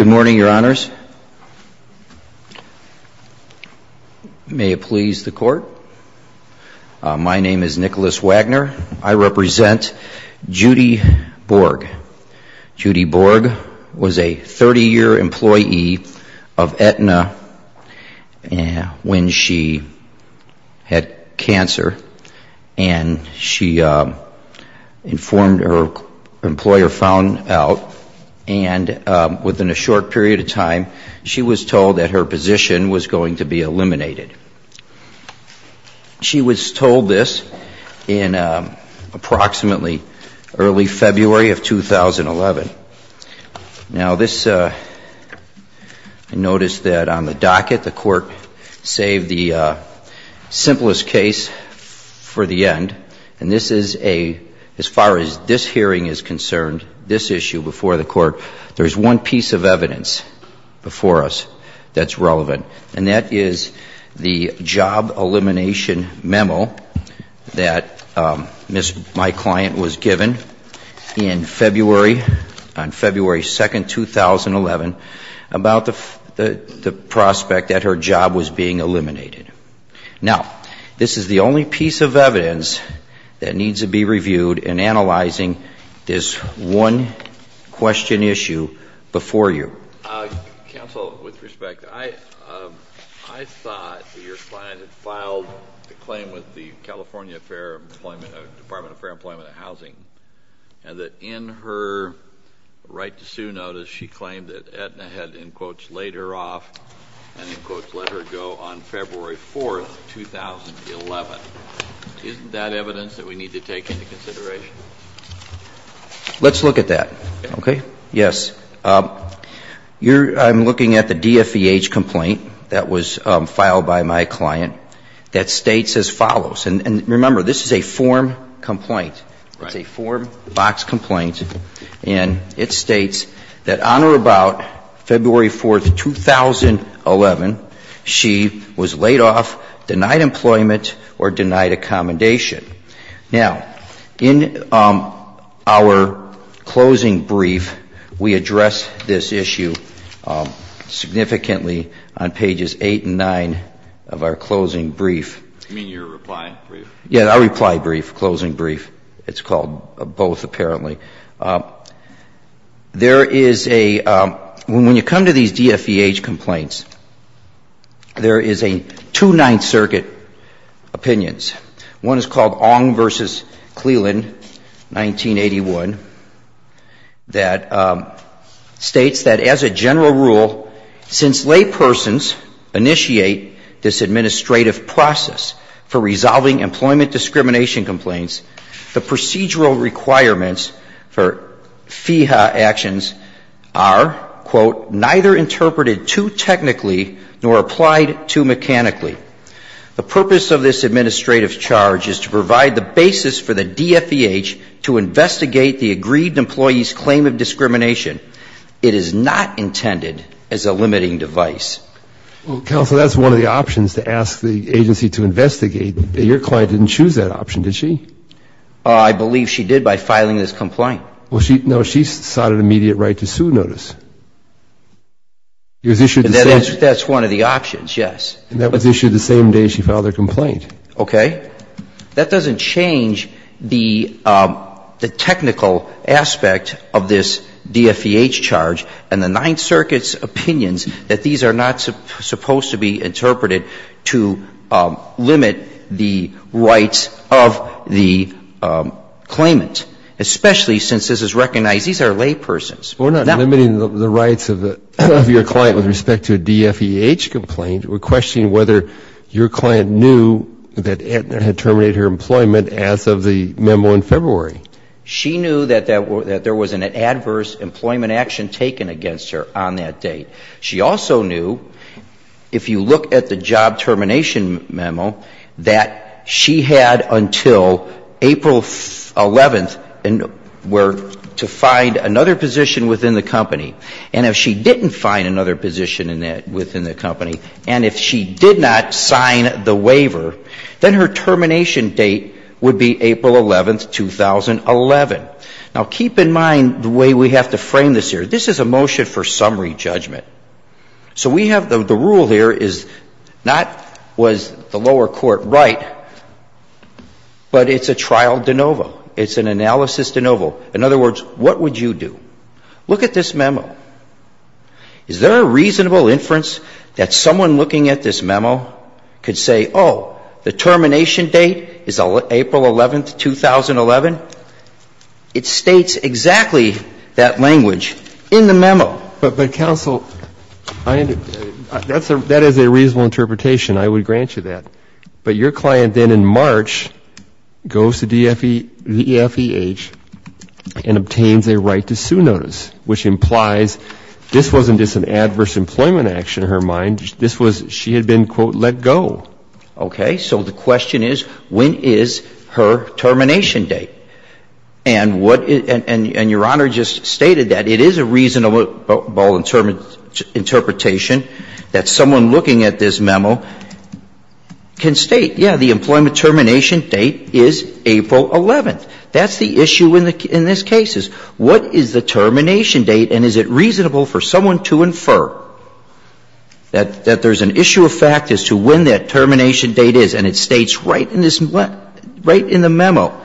Good morning, your honors. May it please the court. My name is Nicholas Wagner. I represent Jodi Bourg. Jodi Bourg was a 30-year employee of Aetna when she had cancer, and she informed her employer found out, and within a short period of time, she was told that her position was going to be eliminated. She was told this in approximately early February of 2011. Now this, notice that on the docket, the court saved the simplest case for the end, and this is a, as far as this hearing is concerned, this issue before the court, there's one piece of evidence before us that's relevant, and that is the job elimination memo that my client was given in February, on February 2, 2011, about the prospect that her job was being eliminated, and that needs to be reviewed in analyzing this one question issue before you. Counsel, with respect, I thought that your client had filed a claim with the California Department of Fair Employment and Housing, and that in her right-to-sue notice, she claimed that Aetna had, in quotes, laid her off, and in quotes, let her go on February 4, 2011. Isn't that evidence that we need to take into consideration? Let's look at that, okay? Yes. I'm looking at the DFVH complaint that was filed by my client that states as follows, and remember, this is a form complaint. It's a form box complaint, and it states that on or about February 4, 2011, she was laid off, denied employment, or denied accommodation. Now, in our closing brief, we address this issue significantly on pages 8 and 9 of our closing brief. You mean your reply brief? Yes, our reply brief, closing brief. It's called both, apparently. There is a – when you look at it, there are two major opinions. One is called Ong v. Cleland, 1981, that states that, as a general rule, since laypersons initiate this administrative process for resolving employment discrimination complaints, the procedural purpose of this administrative charge is to provide the basis for the DFVH to investigate the agreed employee's claim of discrimination. It is not intended as a limiting device. Well, counsel, that's one of the options, to ask the agency to investigate. Your client didn't choose that option, did she? I believe she did by filing this complaint. Well, she – no, she cited immediate right to sue notice. It was issued the same – That's one of the options, yes. And that was issued the same day she filed her complaint. Okay. That doesn't change the technical aspect of this DFVH charge and the Ninth Circuit's opinions that these are not supposed to be interpreted to limit the rights of the claimant, especially since this is recognized these are laypersons. We're not limiting the rights of the – of your client with respect to a DFVH complaint. We're questioning whether your client knew that Edna had terminated her employment as of the memo in February. She knew that there was an adverse employment action taken against her on that date. She also knew, if you look at the job termination memo, that she had until April 11th to find another position within the company. And if she didn't find another position within the company, and if she did not sign the waiver, then her termination date would be April 11th, 2011. Now, keep in mind the way we have to frame this here. This is a motion for summary judgment. So we have – the rule here is not was the lower court right, but it's a trial de novo. It's an analysis de novo. In other words, what would you do? Look at this memo. Is there a reasonable inference that someone looking at this memo could say, oh, the termination date is April 11th, 2011? It states exactly that language in the memo. But, Counsel, I – that is a reasonable interpretation. I would grant you that. But your client then in March goes to DEFEH and obtains a right to sue notice, which implies this wasn't just an adverse employment action in her mind. This was – she had been, quote, let go. Okay. So the question is, when is her termination date? And what – and Your Honor just stated that. It is a reasonable interpretation that someone looking at this memo can state, yeah, the employment termination date is April 11th. That's the issue in this case is, what is the termination date and is it reasonable for someone to infer that there's an issue of fact as to when that termination date is? And it states right in this – right in the memo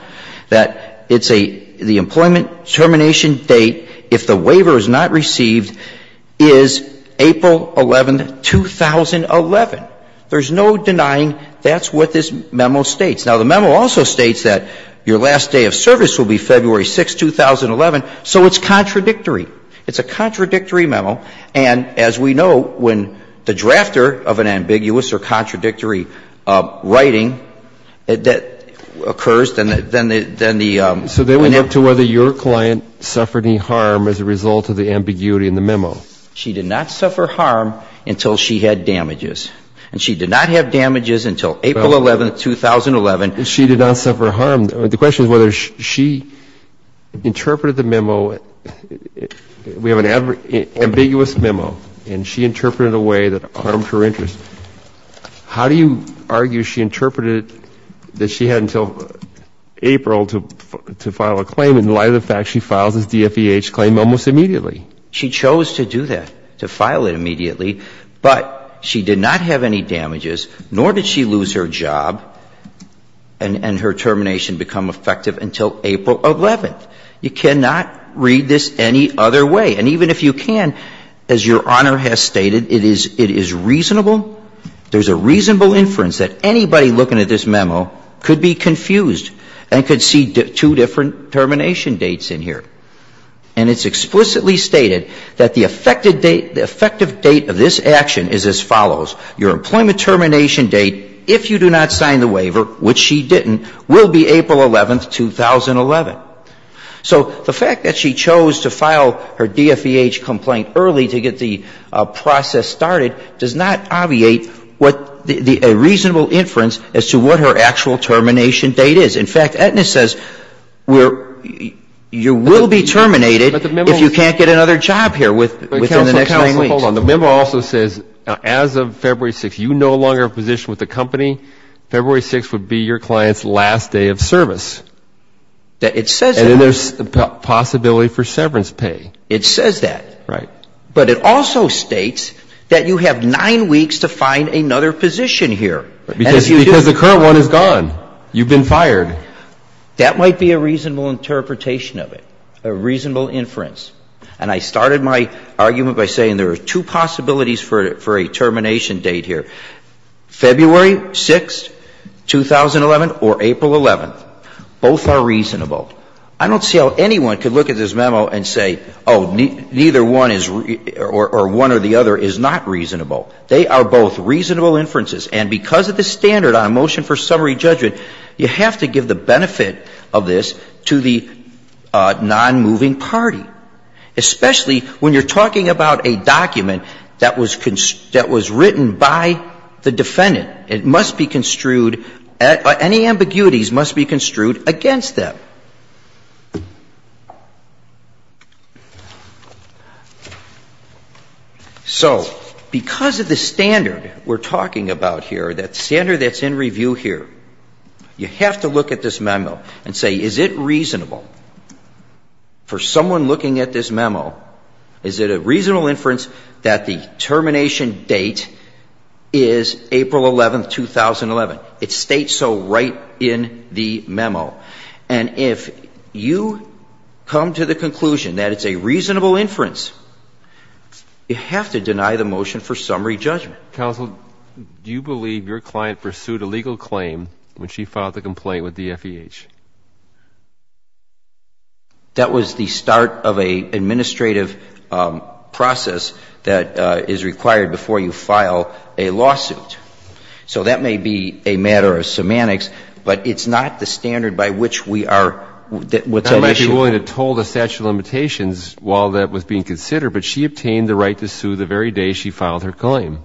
that it's a – the employment termination date, if the waiver is not received, is April 11th, 2011. There's no denying that's what this memo states. Now, the memo also states that your last day of service will be February 6th, 2011. So it's contradictory. It's a contradictory memo. And as we know, when the drafter of an ambiguous or contradictory writing that occurs, then the – then the – So then we get to whether your client suffered any harm as a result of the ambiguity in the memo. She did not suffer harm until she had damages. And she did not have damages until April 11th, 2011. Well, she did not suffer harm. The question is whether she interpreted the memo – we have an ambiguous memo, and she interpreted it in a way that harmed her interest. How do you argue she interpreted that she had until April to file a claim in light of the fact she files this DFEH claim almost immediately? She chose to do that, to file it immediately. But she did not have any damages, nor did she lose her job and her termination become effective until April 11th. You cannot read this any other way. And even if you can, as Your Honor has stated, it is – it is reasonable. There's a reasonable inference that anybody looking at this memo could be confused and could see two different termination dates in here. And it's explicitly stated that the effective date of this action is as follows. Your employment termination date, if you do not sign the waiver, which she didn't, will be April 11th, 2011. So the fact that she chose to file her DFEH complaint early to get the process started does not obviate what the – a reasonable inference as to what her actual termination date is. In fact, Aetna says you will be terminated if you can't get another job here within the next nine weeks. But counsel, hold on. The memo also says as of February 6th, you are no longer positioned with the company. February 6th would be your client's last day of service. It says that. And then there's the possibility for severance pay. It says that. Right. But it also states that you have nine weeks to find another position here. Because the current one is gone. You've been fired. That might be a reasonable interpretation of it, a reasonable inference. And I started my argument by saying there are two possibilities for a termination date here. February 6th, 2011, or April 11th. Both are reasonable. I don't see how anyone could look at this memo and say, oh, neither one is – or one or the other is not reasonable. They are both reasonable inferences. And because they are reasonable, because of the standard on a motion for summary judgment, you have to give the benefit of this to the nonmoving party, especially when you're talking about a document that was written by the defendant. It must be construed – any ambiguities must be construed against them. So because of the standard we're talking about here, that standard that's in review here, you have to look at this memo and say, is it reasonable for someone looking at this memo, is it a reasonable inference that the termination date is April 11th, 2011? It states so right in the memo. And if you come to the conclusion that it's a reasonable summary judgment, you have to look at the summary judgment. Breyer. Counsel, do you believe your client pursued a legal claim when she filed the complaint with the FEH? Clement. That was the start of an administrative process that is required before you file a lawsuit. So that may be a matter of semantics, but it's not the standard by which we are – what's the issue? Breyer. I'm not actually willing to toll the statute of limitations while that was being considered, but she obtained the right to sue the very day she filed her claim. Clement.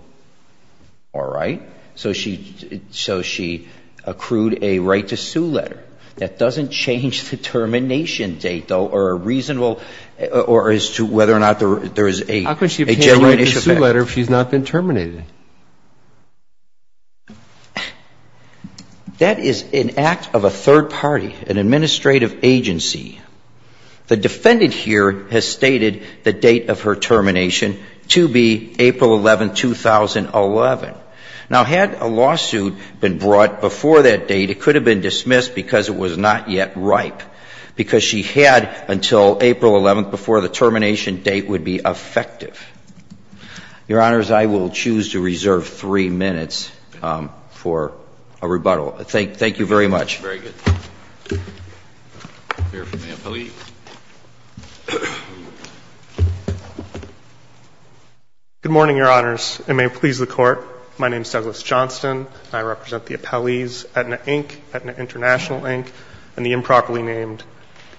All right. So she – so she accrued a right to sue letter. That doesn't change the termination date, though, or a reasonable – or as to whether or not there is a genuine issue there. Breyer. How could she have obtained a right to sue letter if she's not been terminated? Clement. That is an act of a third party, an administrative agency. The defendant here has stated the date of her termination to be April 11, 2011. Now, had a lawsuit been brought before that date, it could have been dismissed because it was not yet ripe, because she had until April 11th before the termination date would be effective. Your Honors, I will choose to reserve three minutes for a rebuttal. Thank you very much. Very good. We'll hear from the appellee. Good morning, Your Honors. And may it please the Court, my name is Douglas Johnston. I represent the appellees Aetna, Inc., Aetna International, Inc., and the improperly named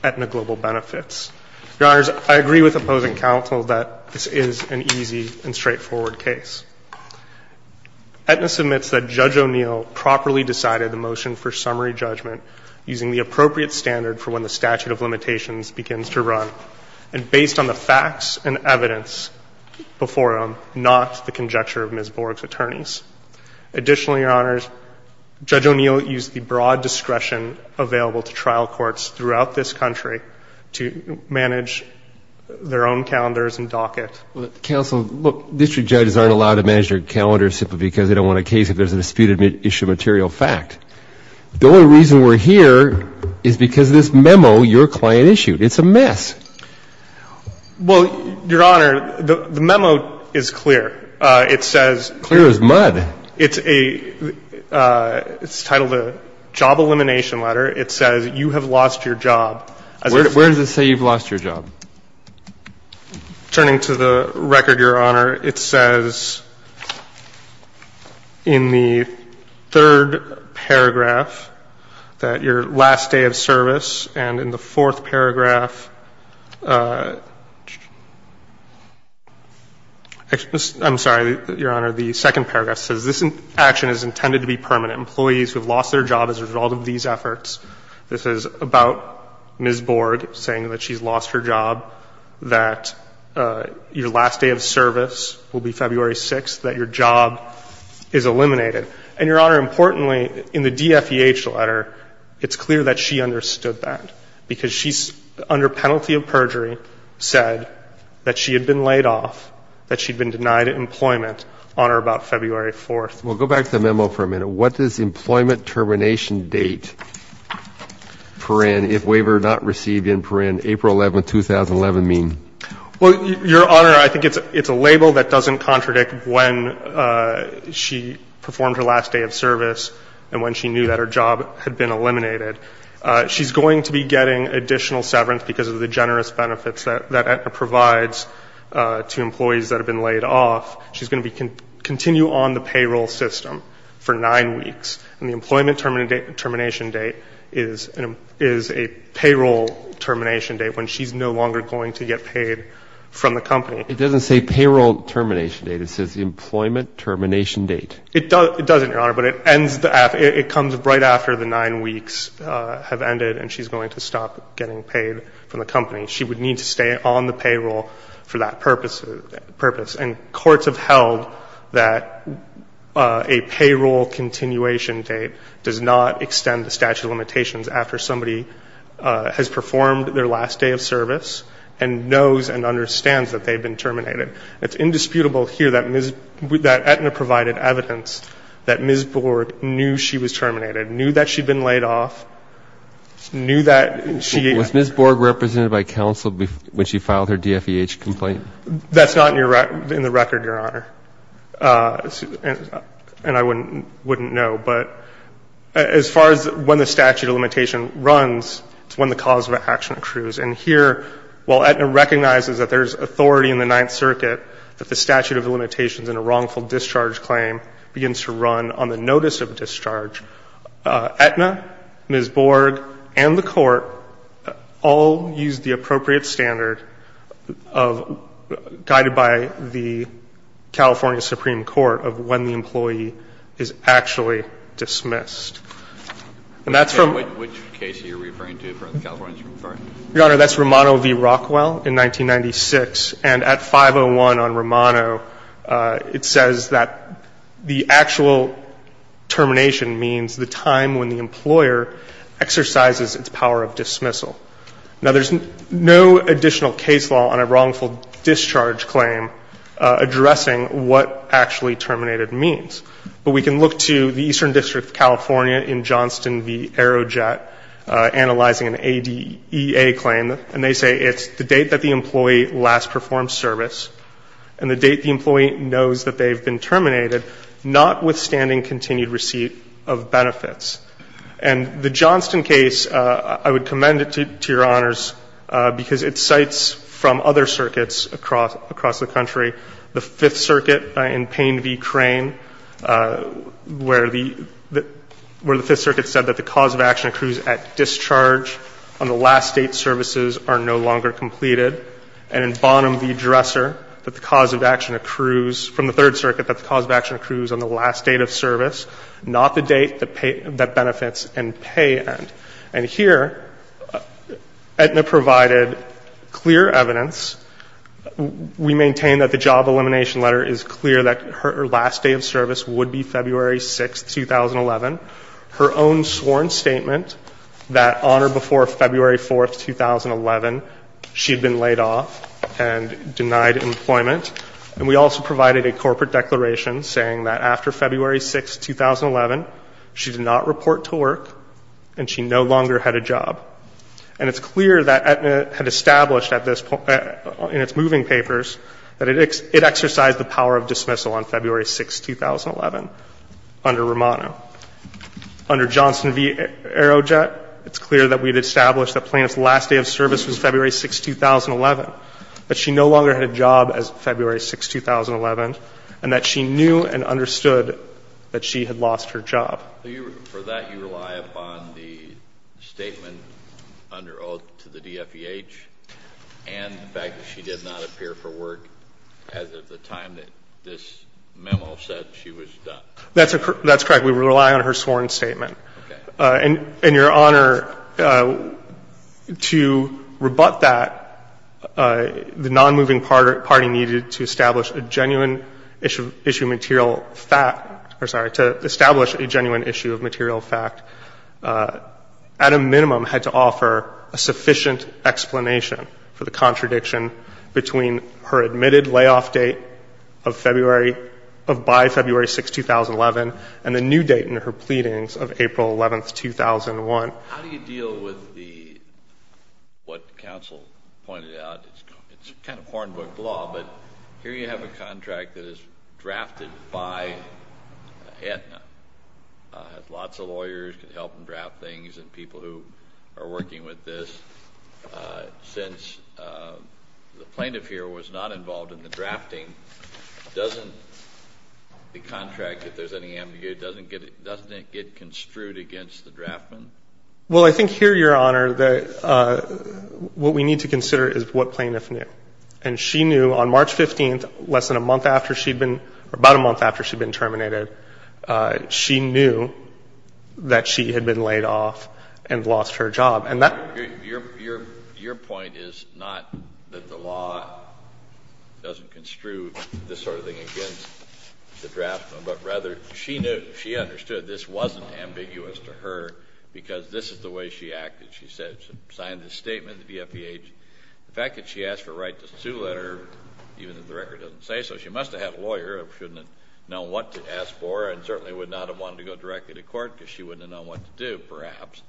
Aetna Global Benefits. Your Honors, I agree with opposing counsel that this is an easy and straightforward case. Aetna submits that Judge O'Neill properly decided the motion for summary judgment using the appropriate standard for when the statute of limitations begins to run, and based on the facts and evidence before him, not the conjecture of Ms. Borg's attorneys. Additionally, Your Honors, Judge O'Neill used the broad discretion available to trial courts throughout this country to manage their own calendars and docket. Counsel, look, district judges aren't allowed to manage their calendars simply because they don't want a case if there's a disputed issue of material fact. The only reason we're here is because of this memo your client issued. It's a mess. Well, Your Honor, the memo is clear. It says... Clear as mud. It's a, it's titled a job elimination letter. It says, you have lost your job. Where does it say you've lost your job? Turning to the record, Your Honor, it says in the third paragraph that your last day of service, and in the fourth paragraph, I'm sorry, Your Honor, the second paragraph says this action is intended to be permanent. Employees who have lost their job as a result of these efforts. This is about Ms. Borg saying that she's lost her job. That your last day of service will be February 6th. That your job is eliminated. And, Your Honor, importantly, in the DFEH letter, it's clear that she understood that because she's, under penalty of perjury, said that she had been laid off, that she'd been denied employment on or about February 4th. Well, go back to the memo for a minute. What does employment termination date, paren, if waiver not received in paren, April 11th, 2011, mean? Well, Your Honor, I think it's a label that doesn't contradict when she performed her last day of service and when she knew that her job had been eliminated. She's going to be getting additional severance because of the generous benefits that it provides to employees that have been laid off. She's going to continue on the payroll system for nine weeks. And the employment termination date is a payroll termination date, when she's no longer going to get paid from the company. It doesn't say payroll termination date. It says employment termination date. It doesn't, Your Honor, but it ends, it comes right after the nine weeks have ended and she's going to stop getting paid from the company. She would need to stay on the payroll for that purpose. And courts have held that a payroll continuation date does not extend the statute of limitations after somebody has performed their last day of service and knows and understands that they've been terminated. It's indisputable here that Ms. – that Aetna provided evidence that Ms. Borg knew she was terminated, knew that she'd been laid off, knew that she – that's not in the record, Your Honor. And I wouldn't know. But as far as when the statute of limitation runs, it's when the cause of action accrues. And here, while Aetna recognizes that there's authority in the Ninth Circuit that the statute of limitations in a wrongful discharge claim begins to run on the notice of discharge, Aetna, Ms. Borg, and the Court all use the appropriate standard of – guided by the California Supreme Court of when the employee is actually dismissed. And that's from – Which case are you referring to, the California Supreme Court? Your Honor, that's Romano v. Rockwell in 1996. And at 501 on Romano, it says that the actual termination means the time when the employer exercises its power of dismissal. Now, there's no additional case law on a wrongful discharge claim addressing what actually terminated means. But we can look to the Eastern District of California in Johnston v. Aerojet analyzing an ADEA claim, and they say it's the date that the employee last performed service and the date the employee knows that they've been terminated, notwithstanding continued receipt of benefits. And the Johnston case, I would commend it to your Honors, because it cites from other circuits across the country, the Fifth Circuit in Payne v. Crane, where the – where the Fifth Circuit said that the cause of action accrues at discharge on the last date services are no longer completed. And in Bonham v. Dresser, that the cause of action accrues from the Third Circuit that the cause of action accrues on the last date of service, not the date that benefits in pay end. And here, Aetna provided clear evidence. We maintain that the job elimination letter is clear that her last day of service would be February 6, 2011. Her own sworn statement that on or before February 4, 2011, she had been laid off and denied employment. And we also provided a corporate declaration saying that after February 6, 2011, she did not report to work and she no longer had a job. And it's clear that Aetna had established at this point in its moving papers that it exercised the power of dismissal on February 6, 2011 under Romano. Under Johnston v. Aerojet, it's clear that we had established that plaintiff's last day of service was February 6, 2011, that she no longer had a job as February 6, 2011, and that she knew and understood that she had lost her job. For that, you rely upon the statement under oath to the DFEH and the fact that she did not appear for work as of the time that this memo said she was done. That's correct. We rely on her sworn statement. Okay. And, Your Honor, to rebut that, the nonmoving party needed to establish a genuine issue of material fact or, sorry, to establish a genuine issue of material fact. At a minimum, had to offer a sufficient explanation for the contradiction between her admitted layoff date of February, of by February 6, 2011, and the new date in her pleadings of April 11, 2001. How do you deal with the, what counsel pointed out, it's kind of corn book law, but here you have a contract that is drafted by Aetna. Lots of lawyers can help draft things and people who are working with this. Since the plaintiff here was not involved in the drafting, doesn't the contract, if there's any ambiguity, doesn't it get construed against the draftman? Well, I think here, Your Honor, that what we need to consider is what plaintiff knew. And she knew on March 15th, less than a month after she'd been, or about a month after she'd been terminated, she knew that she had been laid off and lost her job. And that Your point is not that the law doesn't construe this sort of thing against the draftman, but rather she knew, she understood this wasn't ambiguous to her because this is the way she acted. She said, signed this statement, the VFEH. The fact that she asked for a right to sue letter, even if the record doesn't say so, she must have had a lawyer who should have known what to ask for and certainly would not have wanted to go directly to court because she wouldn't have known what to do, perhaps.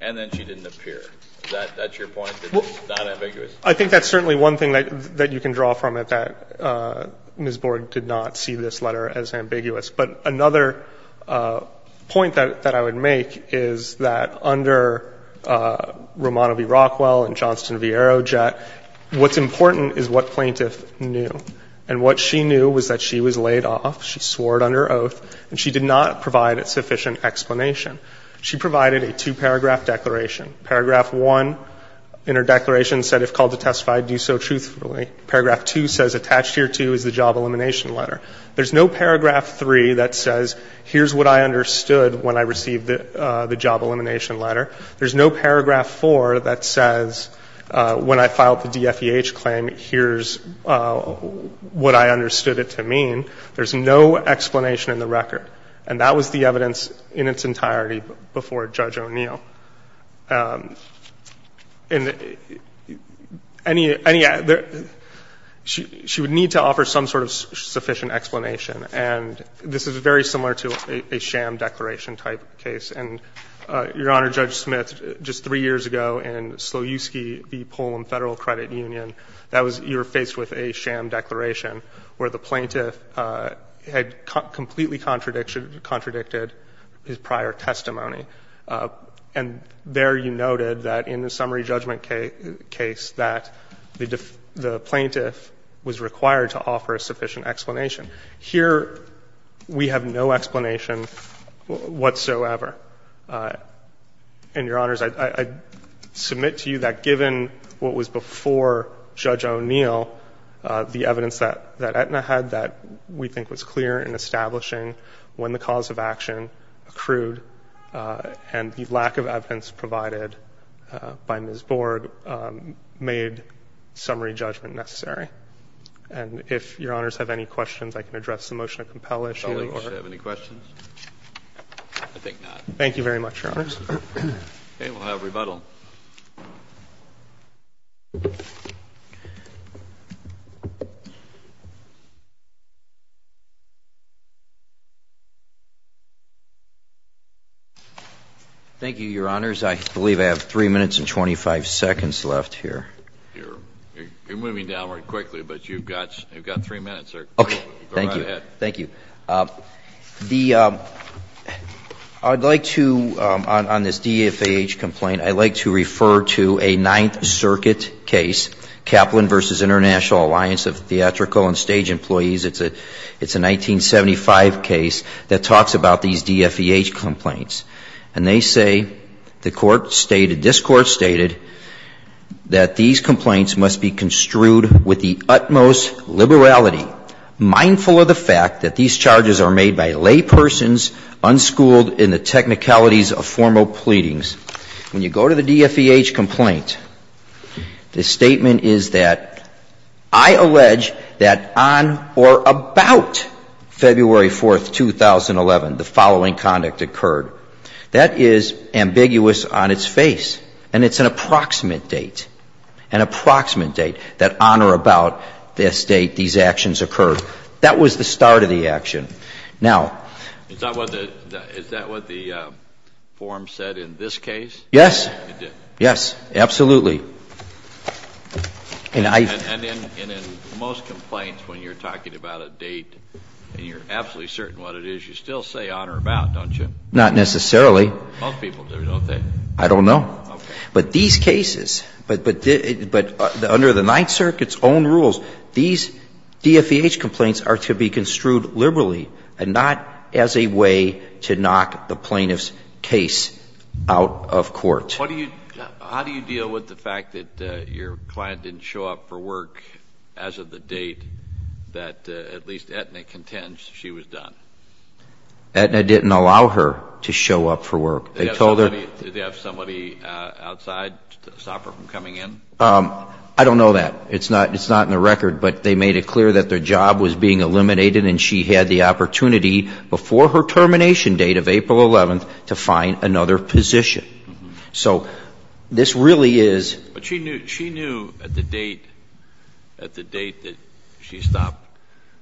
And then she didn't appear. Is that your point, that it's not ambiguous? I think that's certainly one thing that you can draw from it, that Ms. Borg did not see this letter as ambiguous. But another point that I would make is that under Romano v. Rockwell and Johnston v. Arrowjet, what's important is what plaintiff knew. And what she knew was that she was laid off. She swore it under oath. And she did not provide a sufficient explanation. She provided a two-paragraph declaration. Paragraph one in her declaration said, if called to testify, do so truthfully. Paragraph two says attached here to is the job elimination letter. There's no paragraph three that says here's what I understood when I received the job elimination letter. There's no paragraph four that says when I filed the DFEH claim, here's what I understood it to mean. There's no explanation in the record. And that was the evidence in its entirety before Judge O'Neill. She would need to offer some sort of sufficient explanation. And this is very similar to a sham declaration-type case. And, Your Honor, Judge Smith, just three years ago in Sloyewski v. Pullum Federal Credit Union, you were faced with a sham declaration where the plaintiff had completely contradicted his prior testimony. And there you noted that in the summary judgment case that the plaintiff was required to offer a sufficient explanation. Here we have no explanation whatsoever. And, Your Honors, I submit to you that given what was before Judge O'Neill, the evidence that Aetna had that we think was clear in establishing when the cause of action accrued and the lack of evidence provided by Ms. Borg made summary judgment necessary. And if Your Honors have any questions, I can address the motion to compel issue. Do you have any questions? I think not. Thank you very much, Your Honors. Okay. We'll have rebuttal. Thank you, Your Honors. I believe I have 3 minutes and 25 seconds left here. You're moving downward quickly, but you've got 3 minutes, sir. Okay. Thank you. Go right ahead. Thank you. I'd like to, on this DFAH complaint, I'd like to refer to a Ninth Circuit case, Kaplan v. International Alliance of Theatrical and Stage Employees. It's a 1975 case that talks about these DFAH complaints. And they say, the Court stated, this Court stated, that these complaints must be construed with the utmost liberality, mindful of the fact that these charges are made by laypersons unschooled in the technicalities of formal pleadings. When you go to the DFAH complaint, the statement is that, I allege that on or about February 4th, 2011, the following conduct occurred. That is ambiguous on its face. And it's an approximate date, an approximate date, that on or about this date these actions occurred. That was the start of the action. Now Is that what the form said in this case? Yes. It did? Yes. Absolutely. And I And in most complaints, when you're talking about a date and you're absolutely certain what it is, you still say on or about, don't you? Not necessarily. Most people do, don't they? I don't know. Okay. But these cases, but under the Ninth Circuit's own rules, these DFAH complaints are to be construed liberally and not as a way to knock the plaintiff's case out of court. How do you deal with the fact that your client didn't show up for work as of the date that at least Aetna contends she was done? Aetna didn't allow her to show up for work. They told her Did they have somebody outside to stop her from coming in? I don't know that. It's not in the record, but they made it clear that their job was being eliminated and she had the opportunity before her termination date of April 11th to find another position. So this really is But she knew at the date that she stopped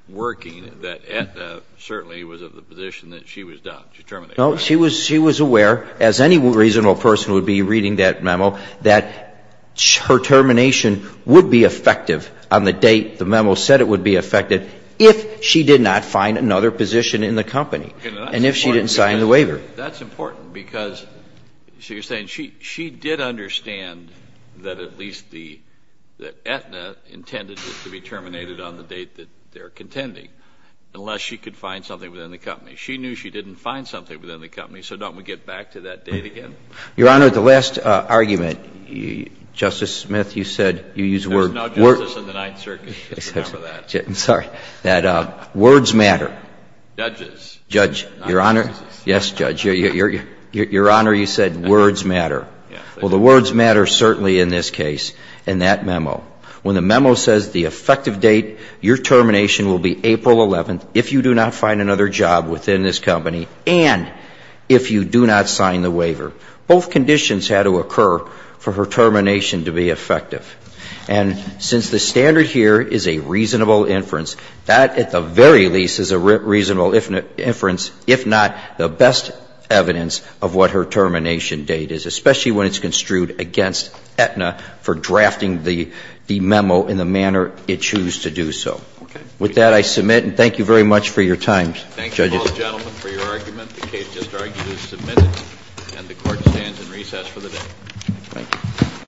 working that Aetna certainly was of the position that she was done, she terminated. No. She was aware, as any reasonable person would be reading that memo, that her termination would be effective on the date the memo said it would be effective if she did not find another position in the company and if she didn't sign the waiver. That's important because you're saying she did understand that at least the Aetna intended it to be terminated on the date that they're contending, unless she could find something within the company. She knew she didn't find something within the company, so don't we get back to that date again? Your Honor, the last argument, Justice Smith, you said you used the word There's no justice in the Ninth Circuit except for that. I'm sorry. That words matter. Judges. Judge, Your Honor. Yes, Judge. Your Honor, you said words matter. Well, the words matter certainly in this case, in that memo. When the memo says the effective date your termination will be April 11th if you do not find another job within this company and if you do not sign the waiver. Both conditions had to occur for her termination to be effective. And since the standard here is a reasonable inference, that at the very least is a reasonable inference, if not the best evidence of what her termination date is, especially when it's construed against Aetna for drafting the memo in the manner it chose to do so. Okay. With that, I submit. And thank you very much for your time, judges. Thank you, all gentlemen, for your argument. The case just argued is submitted. And the Court stands in recess for the day. Thank you.